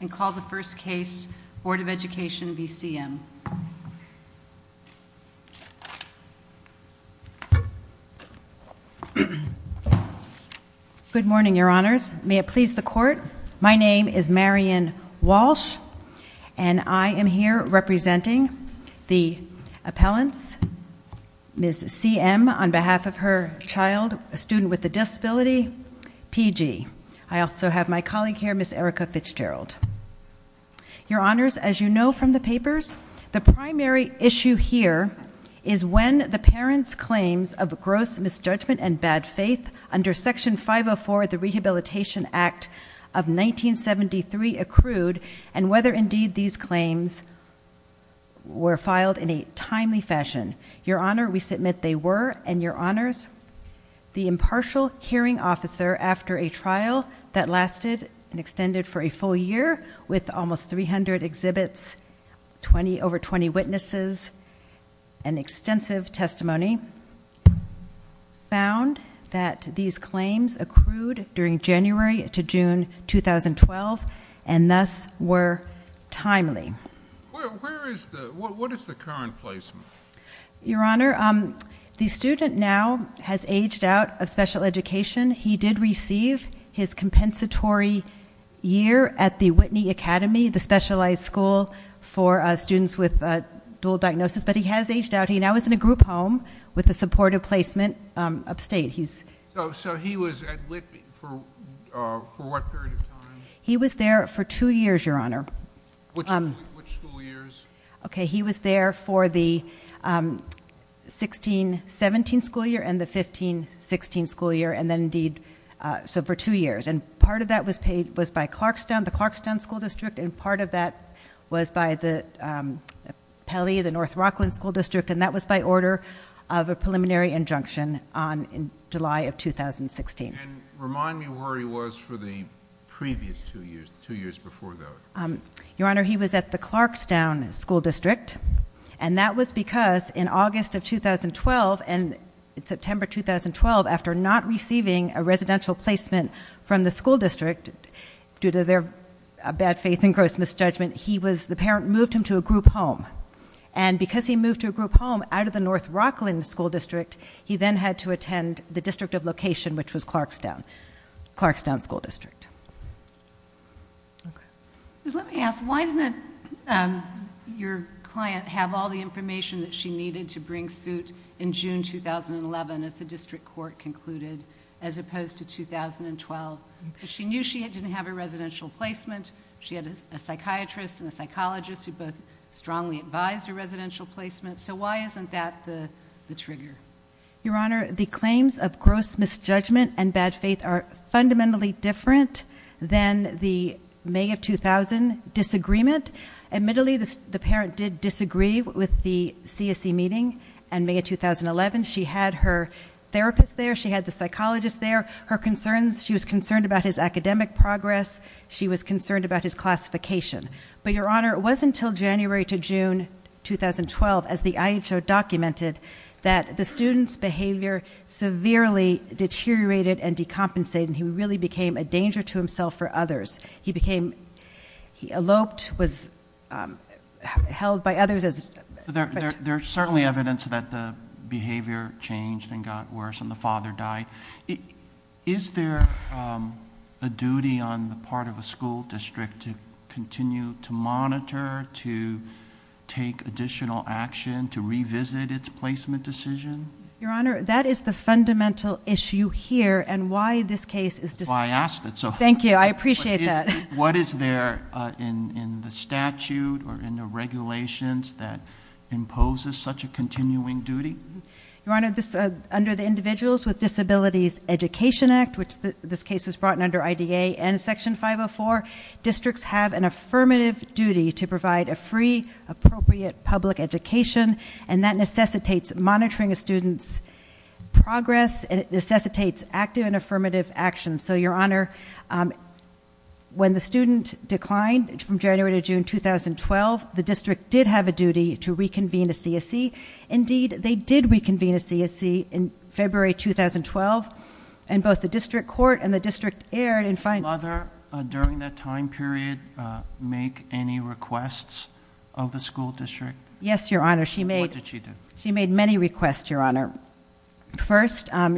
And call the first case, Board of Education v. CM. Good morning, your honors. May it please the court, my name is Marion Walsh, and I am here representing the appellants. Ms. CM, on behalf of her child, a student with a disability, PG. I also have my colleague here, Ms. Erica Fitzgerald. Your honors, as you know from the papers, the primary issue here is when the parents' claims of gross misjudgment and bad faith under Section 504 of the Rehabilitation Act of 1973 accrued, and whether indeed these claims were filed in a timely fashion. Your honor, we submit they were, and your honors, the impartial hearing officer after a trial that lasted and extended for a full year with almost 300 exhibits, over 20 witnesses, and extensive testimony, found that these claims accrued during January to June 2012, and thus were in place. Your honor, the student now has aged out of special education. He did receive his compensatory year at the Whitney Academy, the specialized school for students with dual diagnosis, but he has aged out. He now is in a group home with a supportive placement upstate. So he was at Whitby for what period of time? He was there for two years, your honor. Which school years? Okay, he was there for the 16-17 school year and the 15-16 school year, and then indeed, so for two years, and part of that was paid, was by Clarkstown, the Clarkstown School District, and part of that was by the Pelley, the North Rockland School District, and that was by order of a preliminary injunction on July of 2016. And remind me where he was for the previous two years, two years before that. Your honor, he was at the Clarkstown School District, and that was because in August of 2012 and September 2012, after not receiving a residential placement from the school district due to their bad faith and gross misjudgment, he was, the parent moved him to a group home, and because he moved to a group home out of the North Rockland School District, he then had to attend the district of location, which was Clarkstown, Clarkstown School District. Let me ask, why didn't your client have all the information that she needed to bring suit in June 2011, as the district court concluded, as opposed to 2012? Because she knew she didn't have a residential placement, she had a psychiatrist and a psychologist who both strongly advised her residential placement, so why isn't that the trigger? Your honor, the claims of gross misjudgment and bad faith are fundamentally different than the May of 2000 disagreement. Admittedly, the parent did disagree with the CSE meeting in May of 2011. She had her therapist there, she had the therapist there, and she was concerned about his classification. But your honor, it wasn't until January to June 2012, as the IHO documented, that the student's behavior severely deteriorated and decompensated, and he really became a danger to himself or others. He eloped, was held by others as There's certainly evidence that the behavior changed and got worse and the father died. Is there a duty on the part of a school district to continue to monitor, to take additional action, to revisit its placement decision? Your honor, that is the fundamental issue here, and why this case... Well, I asked it, so... Thank you, I appreciate that. What is there in the statute or in the regulations that This case was brought under IDA and Section 504. Districts have an affirmative duty to provide a free, appropriate public education, and that necessitates monitoring a student's progress, and it necessitates active and affirmative action. So your honor, when the student declined from January to June 2012, the district did have a duty to reconvene a CSE. Indeed, they did reconvene a CSE in February 2012, and both the district court and the district aired in front... Did the mother, during that time period, make any requests of the school district? Yes, your honor, she made... What did she do? She made many requests, your honor. First, at the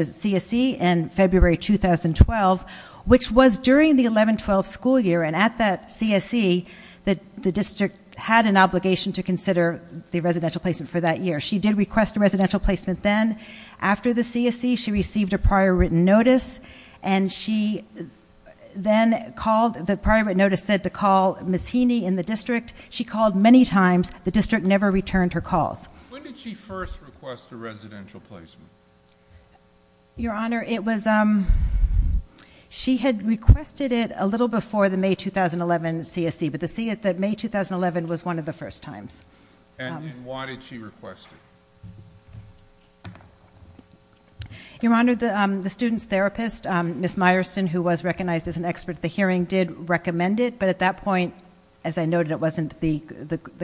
CSE in February 2012, which was during the 11-12 school year, and at that CSE, the district had an obligation to consider the residential placement for that year. She did request a residential placement then. After the CSE, she received a prior written notice, and she then called... The prior written notice said to call Ms. Heaney in the district. She called many times. The district never returned her calls. When did she first request a residential placement? Your honor, it was... She had requested it a little before the May 2011 CSE, but the May 2011 was one of the first times. And why did she request it? Your honor, the student's therapist, Ms. Meyerson, who was recognized as an expert at the hearing, did recommend it, but at that point, as I noted, it wasn't the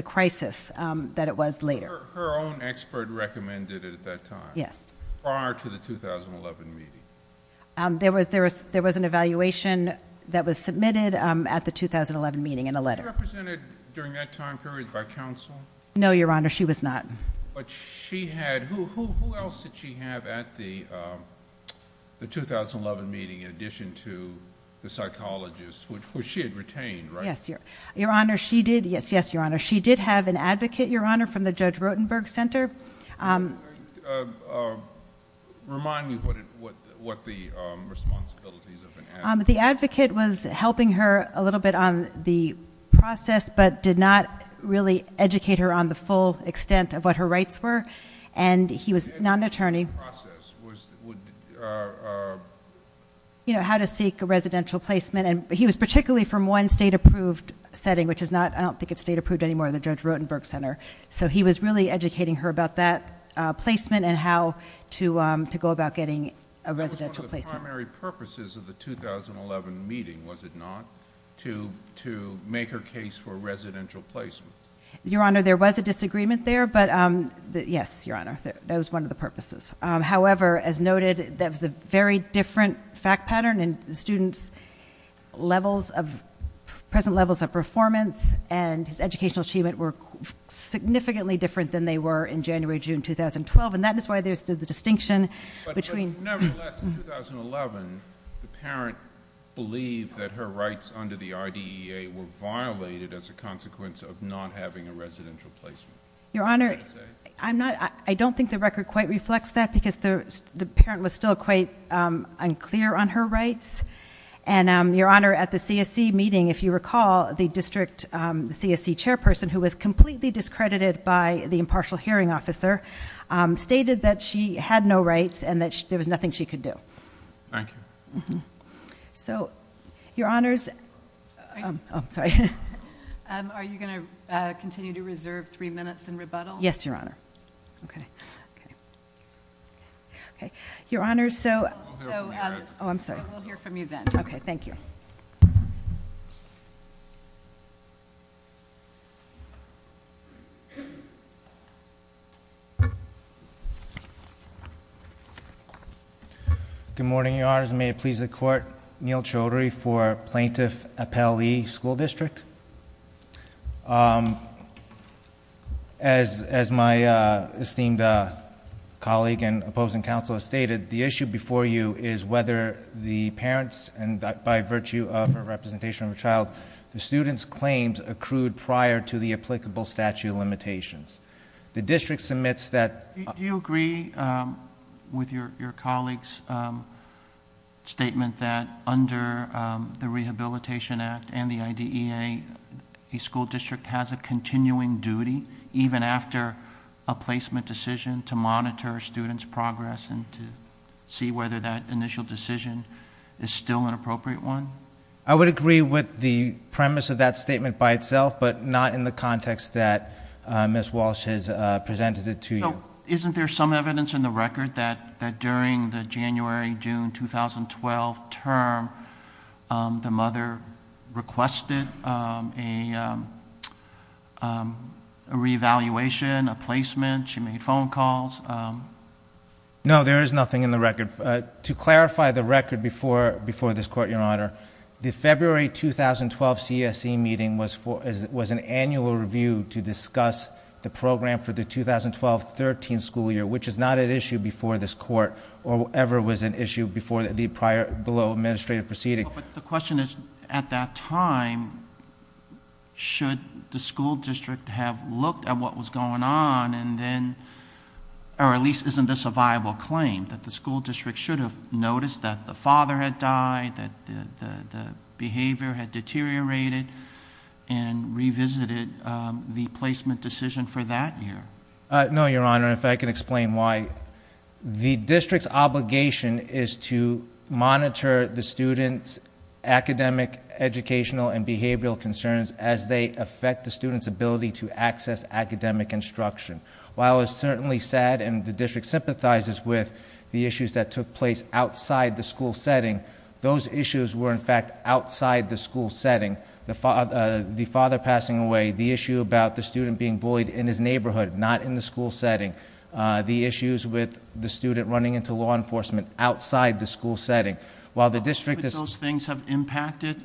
crisis that it was later. Her own expert recommended it at that time? Yes. Prior to the 2011 meeting? There was an evaluation that was submitted at the 2011 meeting in a letter. Was she represented during that time period by counsel? No, your honor, she was not. But she had... Who else did she have at the 2011 meeting in addition to the psychologist, which she had retained, right? Yes, your honor. She did have an advocate, your honor, from the Judge Rotenberg Center. Remind me what the responsibilities of an advocate... The advocate was helping her a little bit on the process, but did not really educate her on the full extent of what her rights were. And he was not an attorney... The process was... You know, how to seek a residential placement, and he was particularly from one state-approved setting, which is not... I don't think it's state-approved anymore, the Judge Rotenberg Center. So he was really educating her about that placement and how to go about getting a residential placement. That was one of the primary purposes of the 2011 meeting, was it not, to make her case for residential placement? Your honor, there was a disagreement there, but... Yes, your honor, that was one of the purposes. However, as noted, that was a very different fact pattern, and the student's levels of... present levels of performance and his educational achievement were significantly different than they were in January, June 2012, and that is why there is the distinction between... But nevertheless, in 2011, the parent believed that her rights under the RDEA were violated as a I don't think the record quite reflects that, because the parent was still quite unclear on her rights, and your honor, at the CSE meeting, if you recall, the district CSE chairperson, who was completely discredited by the impartial hearing officer, stated that she had no rights and that there was nothing she could do. Thank you. So, your honors... I'm sorry. Are you going to continue to reserve three minutes in rebuttal? Yes, your honor. Okay. Your honors, so... I will hear from you then. Okay, thank you. Good morning, your honors. May it please the court, Neal Chaudhry for Plaintiff Appellee School District. As my esteemed colleague and opposing counsel has stated, the issue before you is whether the parents, and by virtue of a representation of a child, the student's claims accrued prior to the applicable statute of limitations. The district submits that... Do you agree with your colleague's statement that under the Rehabilitation Act and the IDEA, a school district has a continuing duty, even after a placement decision, to monitor students' progress and to see whether that initial decision is still an appropriate one? I would agree with the premise of that statement by itself, but not in the context that Ms. Walsh has presented it to you. Isn't there some evidence in the record that during the January-June 2012 term, the mother requested a reevaluation, a placement. She made phone calls. No, there is nothing in the record. To clarify the record before this court, your honor, the February 2012 CSE meeting was an annual review to discuss the program for the 2012-13 school year, which is not an issue before this court or ever was an issue before the prior below administrative proceeding. But the question is, at that time, should the school district have looked at what was going on and then... or at least isn't this a viable claim, that the school district should have noticed that the father had died, that the behavior had deteriorated and revisited the placement decision for that year? No, your honor. If I could explain why. The district's obligation is to monitor the student's academic, educational and behavioral concerns as they affect the student's ability to access academic instruction. While it's certainly sad and the district sympathizes with the issues that took place outside the school setting, those issues were in fact outside the school setting. The father passing away, the issue about the student being bullied in his neighborhood, not in the school setting. The issues with the student running into law enforcement outside the school setting. While the district... Those things have impacted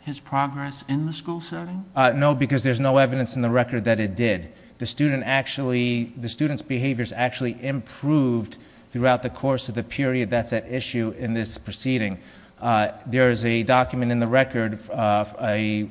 his progress in the school setting? No, because there's no evidence in the record that it did. The student's behavior has actually improved throughout the course of the period that's at issue in this proceeding. There is a document in the record, a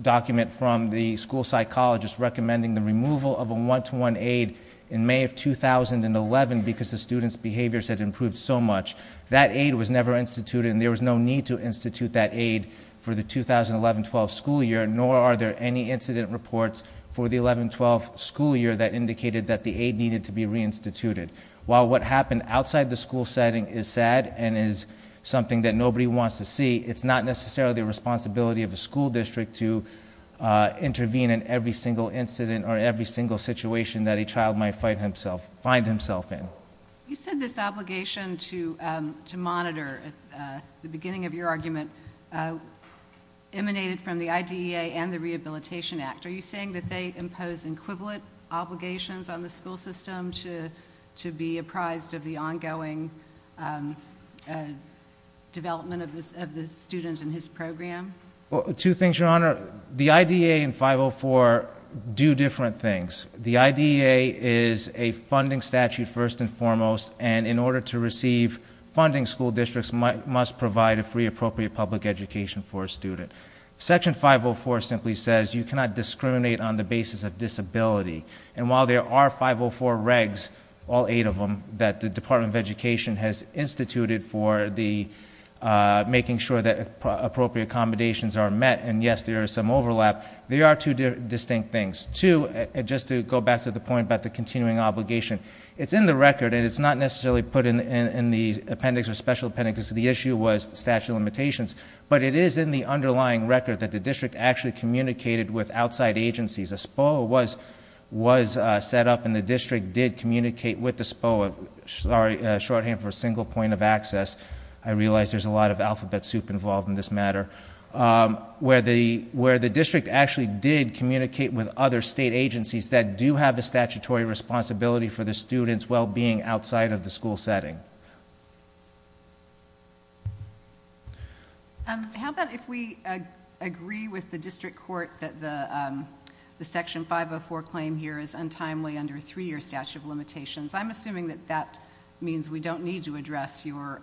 document from the school psychologist recommending the removal of a one-to-one aid in May of 2011 because the student's behavior had improved so much. That aid was never instituted and there was no need to institute that aid for the 2011-12 school year, nor are there any incident reports for the 11-12 school year that indicated that the aid needed to be reinstituted. While what happened outside the school setting is sad and is something that nobody wants to see, it's not necessarily the responsibility of a school district to intervene in every single incident or every single situation that a child might find himself in. You said this obligation to monitor at the beginning of your statement. Are you saying that they impose equivalent obligations on the school system to be apprised of the ongoing development of the student and his program? Two things, Your Honor. The IDEA and 504 do different things. The IDEA is a funding statute first and foremost, and in order to receive funding, school districts must provide a free, appropriate public education for a student. Section 504 simply says you cannot discriminate on the basis of disability. While there are 504 regs, all eight of them, that the Department of Education has instituted for making sure that appropriate accommodations are met, and yes, there is some overlap, there are two distinct things. Two, just to go back to the point about the continuing obligation, it's in the record and it's not necessarily put in the appendix or special appendix. The issue was statute of limitations, but it is in the underlying record that the district actually communicated with outside agencies. A SPOA was set up and the district did communicate with the SPOA. Sorry, shorthand for single point of access. I realize there's a lot of alphabet soup involved in this matter. Where the district actually did communicate with other state agencies that do have a statutory responsibility for the student's well-being outside of the school setting. How about if we agree with the district court that the Section 504 claim here is untimely under a three-year statute of limitations? I'm assuming that that means we don't need to address your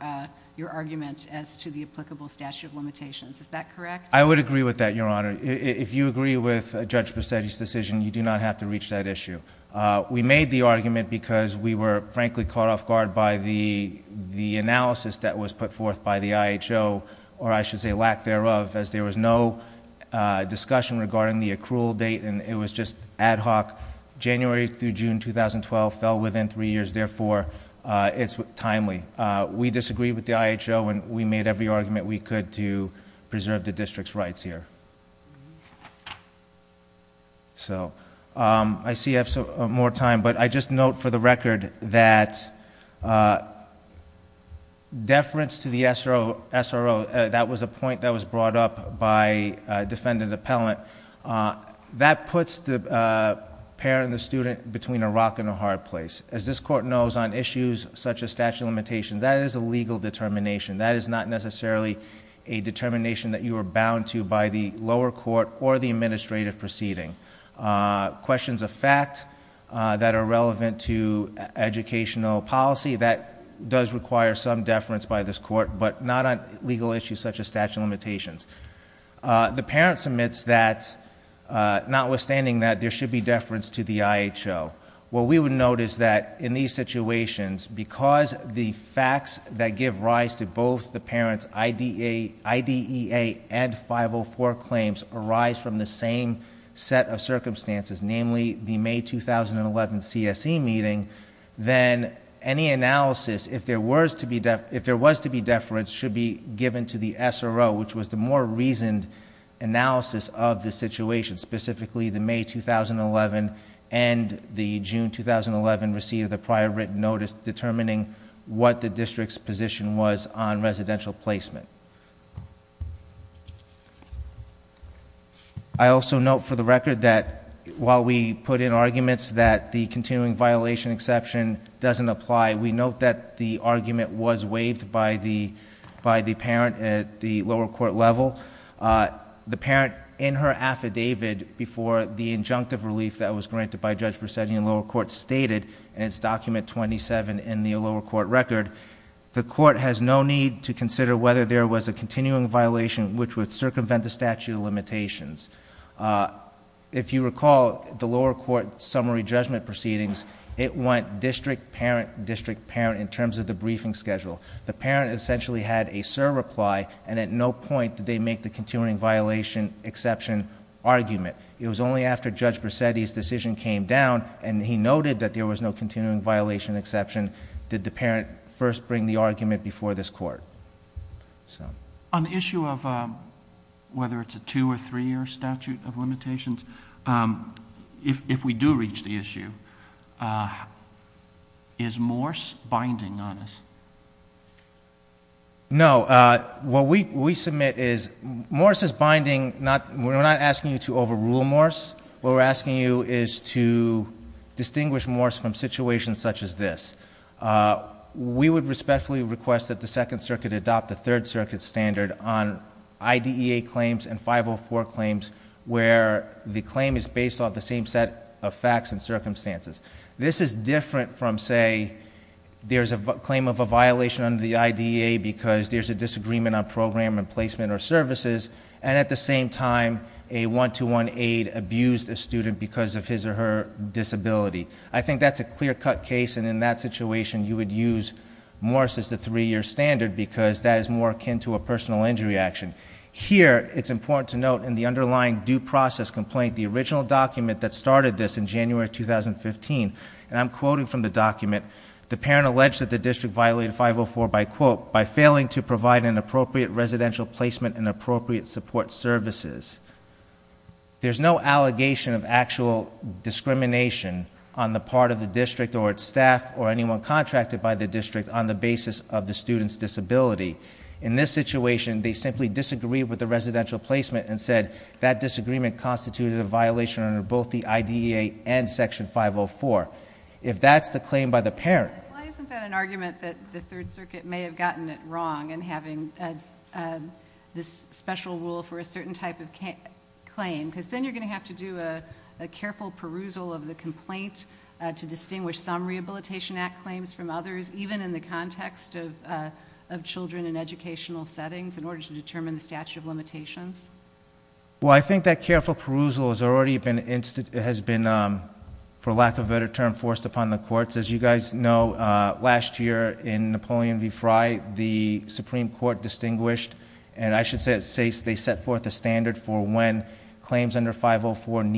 argument as to the applicable statute of limitations. Is that correct? I would agree with that, Your Honor. If you agree with Judge Bassetti's decision, you do not have to reach that issue. We made the argument because we were, frankly, caught off guard by the analysis that was put forth by the IHO, or I should say lack thereof, as there was no discussion regarding the accrual date and it was just timely. We disagreed with the IHO and we made every argument we could to preserve the district's rights here. I see I have more time, but I just note for the record that deference to the SRO, that was a point that was brought up by a defendant appellant, that puts the parent and the student between a rock and a hard place. As this court knows, on issues such as statute of limitations, that is a legal determination. That is not necessarily a determination that you are bound to by the lower court or the administrative proceeding. Questions of fact that are relevant to educational policy, that does require some deference by this court, but not on legal issues such as statute of limitations. The parent submits that, notwithstanding that there should be deference to the IHO. What we would note is that in these situations, because the facts that give rise to both the parent's IDEA and 504 claims arise from the same set of circumstances, namely the May 2011 CSE meeting, then any analysis, if there was to be deference, should be given to the SRO, which was the more reasoned analysis of the situation, specifically the May 2011 and the June 2011 receipt of the prior written notice determining what the district's position was on residential placement. I also note for the record that while we believe that the argument was waived by the parent at the lower court level, the parent, in her affidavit before the injunctive relief that was granted by Judge Presetti in lower court, stated in its document 27 in the lower court record, the court has no need to consider whether there was a continuing violation which would circumvent the statute of limitations. If you recall, the lower court summary judgment proceedings, it went district, parent, district, parent in terms of the briefing schedule. The parent essentially had a SIR reply, and at no point did they make the continuing violation exception argument. It was only after Judge Presetti's decision came down, and he noted that there was no continuing violation exception, did the parent first bring the argument before this court. On the issue of whether it's a two- or three-year statute of limitations, if we do reach the issue, is Morse binding on us? No. What we submit is, Morse is binding. We're not asking you to overrule Morse. What we're asking you is to distinguish Morse from situations such as this. We would respectfully request that the Second Circuit adopt a Third Circuit standard on IDEA claims and 504 claims, where the claim is based off the same set of facts and circumstances. This is different from, say, there's a claim of a violation under the IDEA because there's a disagreement on program and placement or services, and at the same time a one-to-one aide abused a student because of his or her disability. I think that's a clear-cut case, and in that situation you would use Morse as the three-year standard because that is more akin to a personal injury action. Here, it's important to note in the underlying due process complaint, the original document that started this in January 2015, and I'm quoting from the document, the parent alleged that the district violated 504 by quote, by failing to provide an appropriate residential placement and appropriate support services. There's no allegation of actual discrimination on the part of the district or its staff or anyone contracted by the district on the basis of the student's disability. In this situation, they simply disagreed with the residential placement and said that disagreement constituted a violation under both the IDEA and Section 504. If that's the claim by the parent... Why isn't that an argument that the Third Circuit may have gotten it wrong in having this special rule for a certain type of claim? Because then you're going to have to do a careful perusal of the complaint to distinguish some Rehabilitation Act claims from others, even in the context of children in educational settings, in order to determine the statute of limitations. Well, I think that careful perusal has already been, for lack of a better term, forced upon the courts. As you guys know, last year in Napoleon v. Fry, the Supreme Court distinguished, and I should say they set forth a standard for when claims under 504 and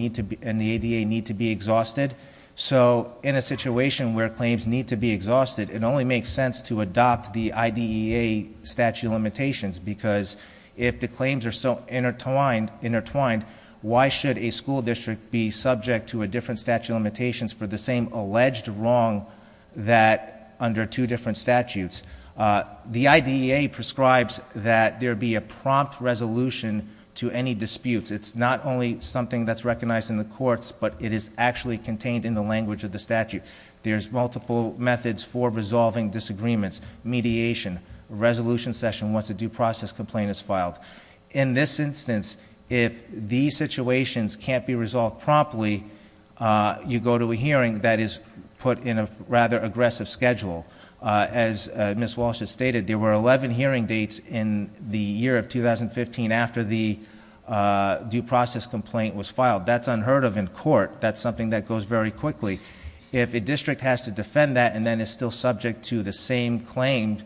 the IDEA need to be exhausted. So in a situation where claims need to be exhausted, it only makes sense to adopt the IDEA statute of limitations, because if the claims are so intertwined, why should a school district be subject to a different statute of limitations for the same alleged wrong under two different statutes? The IDEA prescribes that there be a prompt resolution to any disputes. It's not only something that's recognized in the courts, but it is actually contained in the language of the statute. There's multiple methods for resolving disagreements. Mediation, a resolution session once a due process complaint is filed. In this instance, if these situations can't be resolved promptly, you go to a hearing that is put in a rather aggressive schedule. As Ms. Walsh has stated, there were 11 hearing dates in the year of 2015 after the due process complaint was filed. That's unheard of in court. That's something that goes very quickly. If a district has to defend that and then is still subject to the same claim,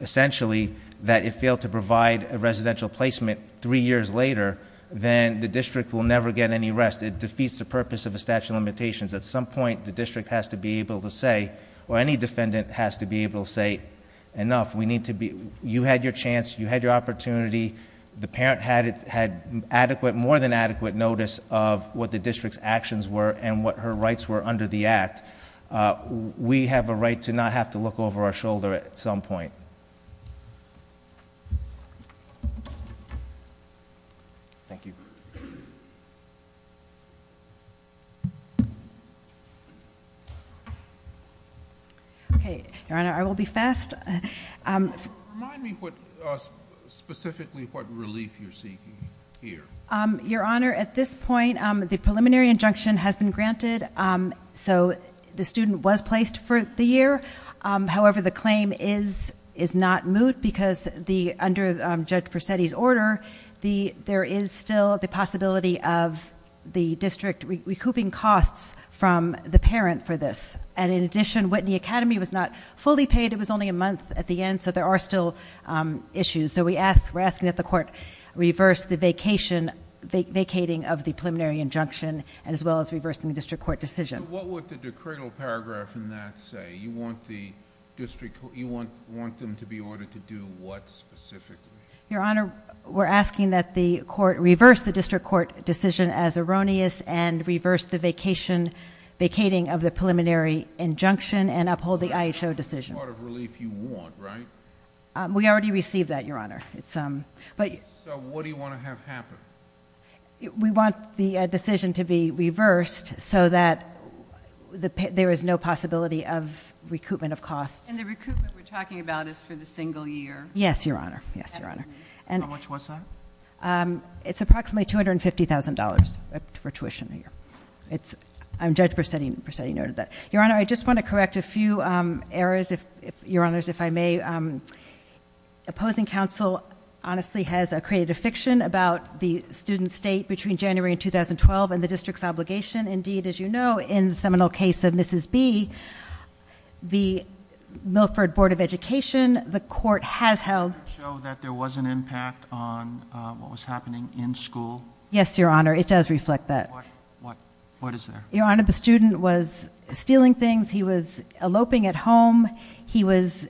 essentially, that it failed to provide a residential placement three years later, then the district will never get any rest. It defeats the purpose of the statute of limitations. At some point, the district has to be able to say, or any defendant has to be able to say, enough. You had your chance. You had your opportunity. The parent had more than adequate notice of what the district's actions were and what her rights were under the act. We have a right to not have to look over our shoulder at some point. Thank you. Your Honor, I will be fast. Remind me specifically what relief you're seeking here. Your Honor, at this point, the preliminary injunction has been granted. The student was placed for the year. However, the claim is not moot because under Judge Persetti's order, there is still the possibility of the district recouping costs from the parent for this. In addition, Whitney Academy was not fully paid. It was only a month at the end, so there are still issues. We're asking that the court reverse the vacating of the preliminary injunction as well as reversing the district court decision. So what would the decreed paragraph in that say? You want them to be ordered to do what specifically? Your Honor, we're asking that the court reverse the district court decision as erroneous and reverse the vacating of the preliminary injunction and uphold the IHO decision. That's the part of relief you want, right? We already received that, Your Honor. So what do you want to have happen? We want the decision to be reversed so that there is no possibility of recoupment of costs. And the recoupment we're talking about is for the single year? Yes, Your Honor. How much was that? It's approximately $250,000 for tuition a year. Your Honor, I just want to correct a few errors, if I may. Opposing counsel honestly has created a fiction about the student state between January 2012 and the district's obligation. Indeed, as you know, in the seminal case of Mrs. B, the Milford Board of Education, the court has held Did it show that there was an impact on what was happening in school? Yes, Your Honor. It does reflect that. What is there? Your Honor, the student was stealing things. He was eloping at home. He was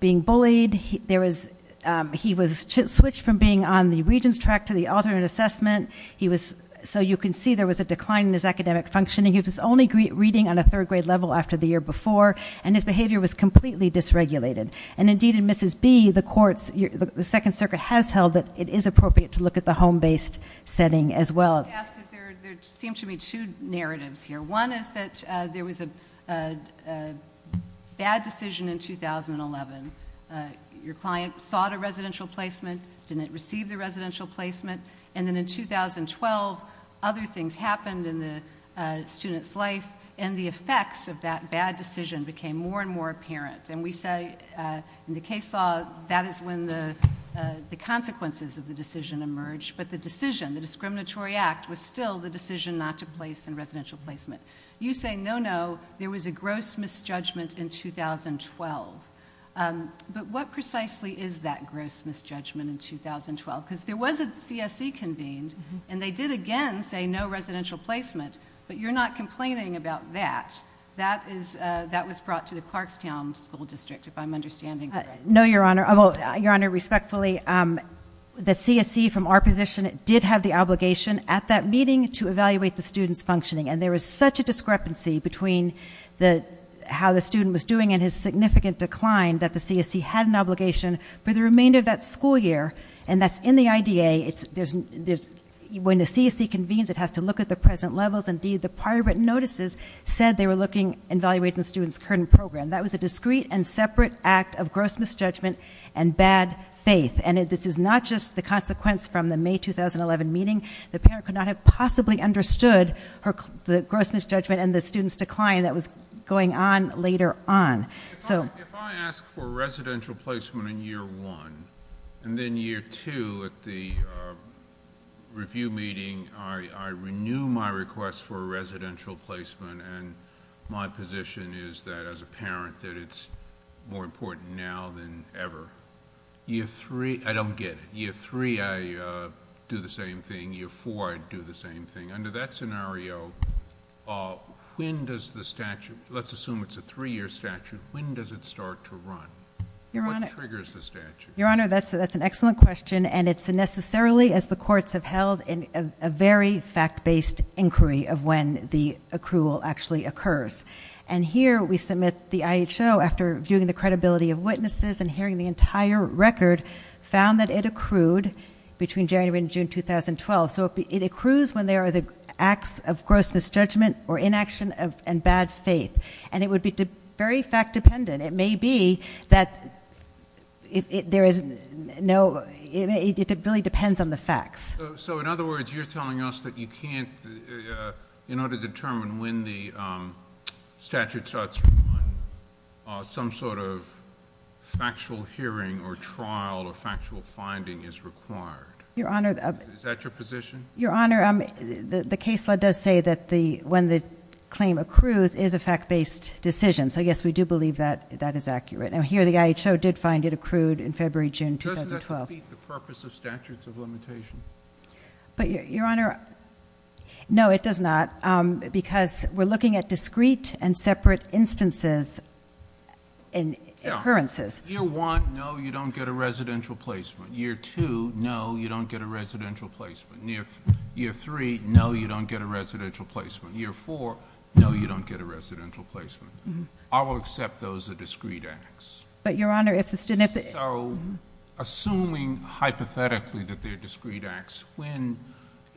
being bullied. He was switched from being on the regents track to the alternate assessment. So you can see there was a decline in his academic functioning. He was only reading on a third grade level after the year before, and his behavior was completely dysregulated. And indeed, in Mrs. B, the second circuit has held that it is appropriate to look at the home-based setting as well. I wanted to ask because there seem to be two narratives here. One is that there was a bad decision in 2011. Your client sought a residential placement, didn't receive the residential placement. And then in 2012, other things happened in the student's life, and the effects of that bad decision became more and more apparent. In the case law, that is when the consequences of the decision emerged. But the decision, the discriminatory act, was still the decision not to place in residential placement. You say, no, no, there was a gross misjudgment in 2012. But what precisely is that gross misjudgment in 2012? Because there was a CSE convened, and they did again say no residential placement. But you're not complaining about that. That was brought to the Clarkstown School District, if I'm understanding correctly. No, Your Honor, well, Your Honor, respectfully, the CSE from our position did have the obligation at that meeting to evaluate the student's functioning, and there was such a discrepancy between how the student was doing and his significant decline that the CSE had an obligation for the remainder of that school year, and that's in the IDA. When the CSE convenes, it has to look at the present levels. Indeed, the prior written notices said that they were looking and evaluating the student's current program. That was a discrete and separate act of gross misjudgment and bad faith, and this is not just the consequence from the May 2011 meeting. The parent could not have possibly understood the gross misjudgment and the student's decline that was going on later on. If I ask for residential placement in year one, and then year two at the review meeting, I renew my request for a residential placement, and my position is that, as a parent, that it's more important now than ever. Year three, I don't get it. Year three, I do the same thing. Year four, I do the same thing. Under that scenario, when does the statute, let's assume it's a three-year statute, when does it start to run? What triggers the statute? Your Honor, that's an excellent question, and it's necessarily, as the courts have held, a very fact-based inquiry of when the accrual actually occurs. Here, we submit the IHO, after viewing the credibility of witnesses and hearing the entire record, found that it accrued between January and June 2012. It accrues when there are acts of gross misjudgment or inaction and bad faith. And it would be very fact-dependent. It may be that it really depends on the facts. So, in other words, you're telling us that you can't, in order to determine when the statute starts to run, some sort of factual hearing or trial or factual finding is required. Is that your position? Your Honor, the case law does say that when the claim accrues, it is a fact-based decision. So, yes, we do believe that that is accurate. And here, the IHO did find it accrued in February, June 2012. But, Your Honor, no, it does not. Because we're looking at discrete and separate instances and occurrences. Year 1, no, you don't get a residential placement. Year 2, no, you don't get a residential placement. Year 3, no, you don't get a residential placement. Year 4, no, you don't get a residential placement. I will accept those are discrete acts. Assuming hypothetically that they're discrete acts, when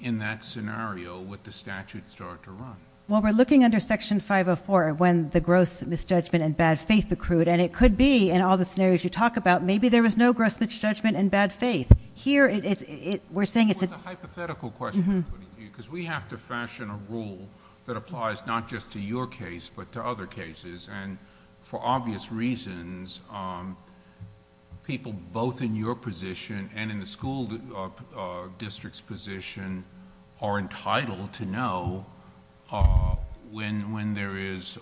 in that scenario would the statute start to run? We're looking under Section 504 when the gross misjudgment and bad faith accrued. It could be in all the scenarios you talk about, maybe there was no gross misjudgment and bad faith. It was a hypothetical question I put in here because we have to fashion a rule that applies not just to your case but to other cases. For obvious reasons, people both in your position and in the school district's position are entitled to know when there is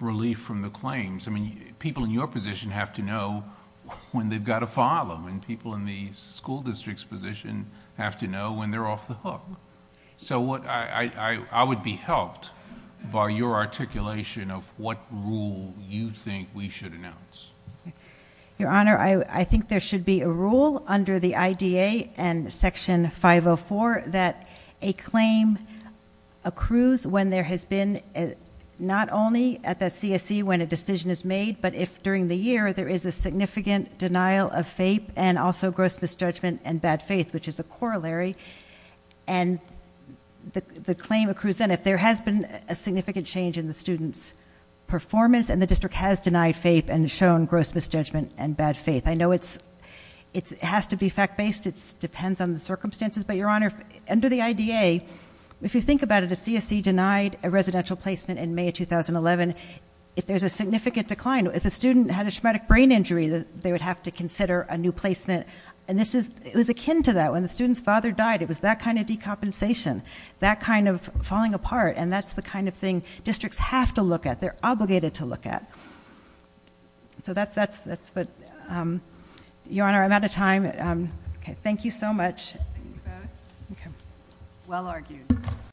relief from the claims. People in your position have to know when they've got to file them. People in the school district's position have to know when they're off the hook. I would be helped by your articulation of what rule you think we should announce. Your Honor, I think there should be a rule under the IDA and Section 504 that a claim accrues when there has been not only at the CSE when a decision is made but if during the year there is a significant denial of FAPE and also gross misjudgment and bad faith, which is a corollary. The claim accrues then if there has been a significant change in the student's performance and the district has denied FAPE and shown gross misjudgment and bad faith. It has to be fact-based. It depends on the circumstances. Under the IDA, if you think about it, a CSE denied a residential placement in May 2011. If there's a significant decline, if a student had a traumatic brain injury, they would have to consider a new placement. It was akin to that. When the student's father died, it was that kind of decompensation, that kind of falling apart. That's the kind of thing districts have to look at. They're obligated to look at. Your Honor, I'm out of time. Thank you so much.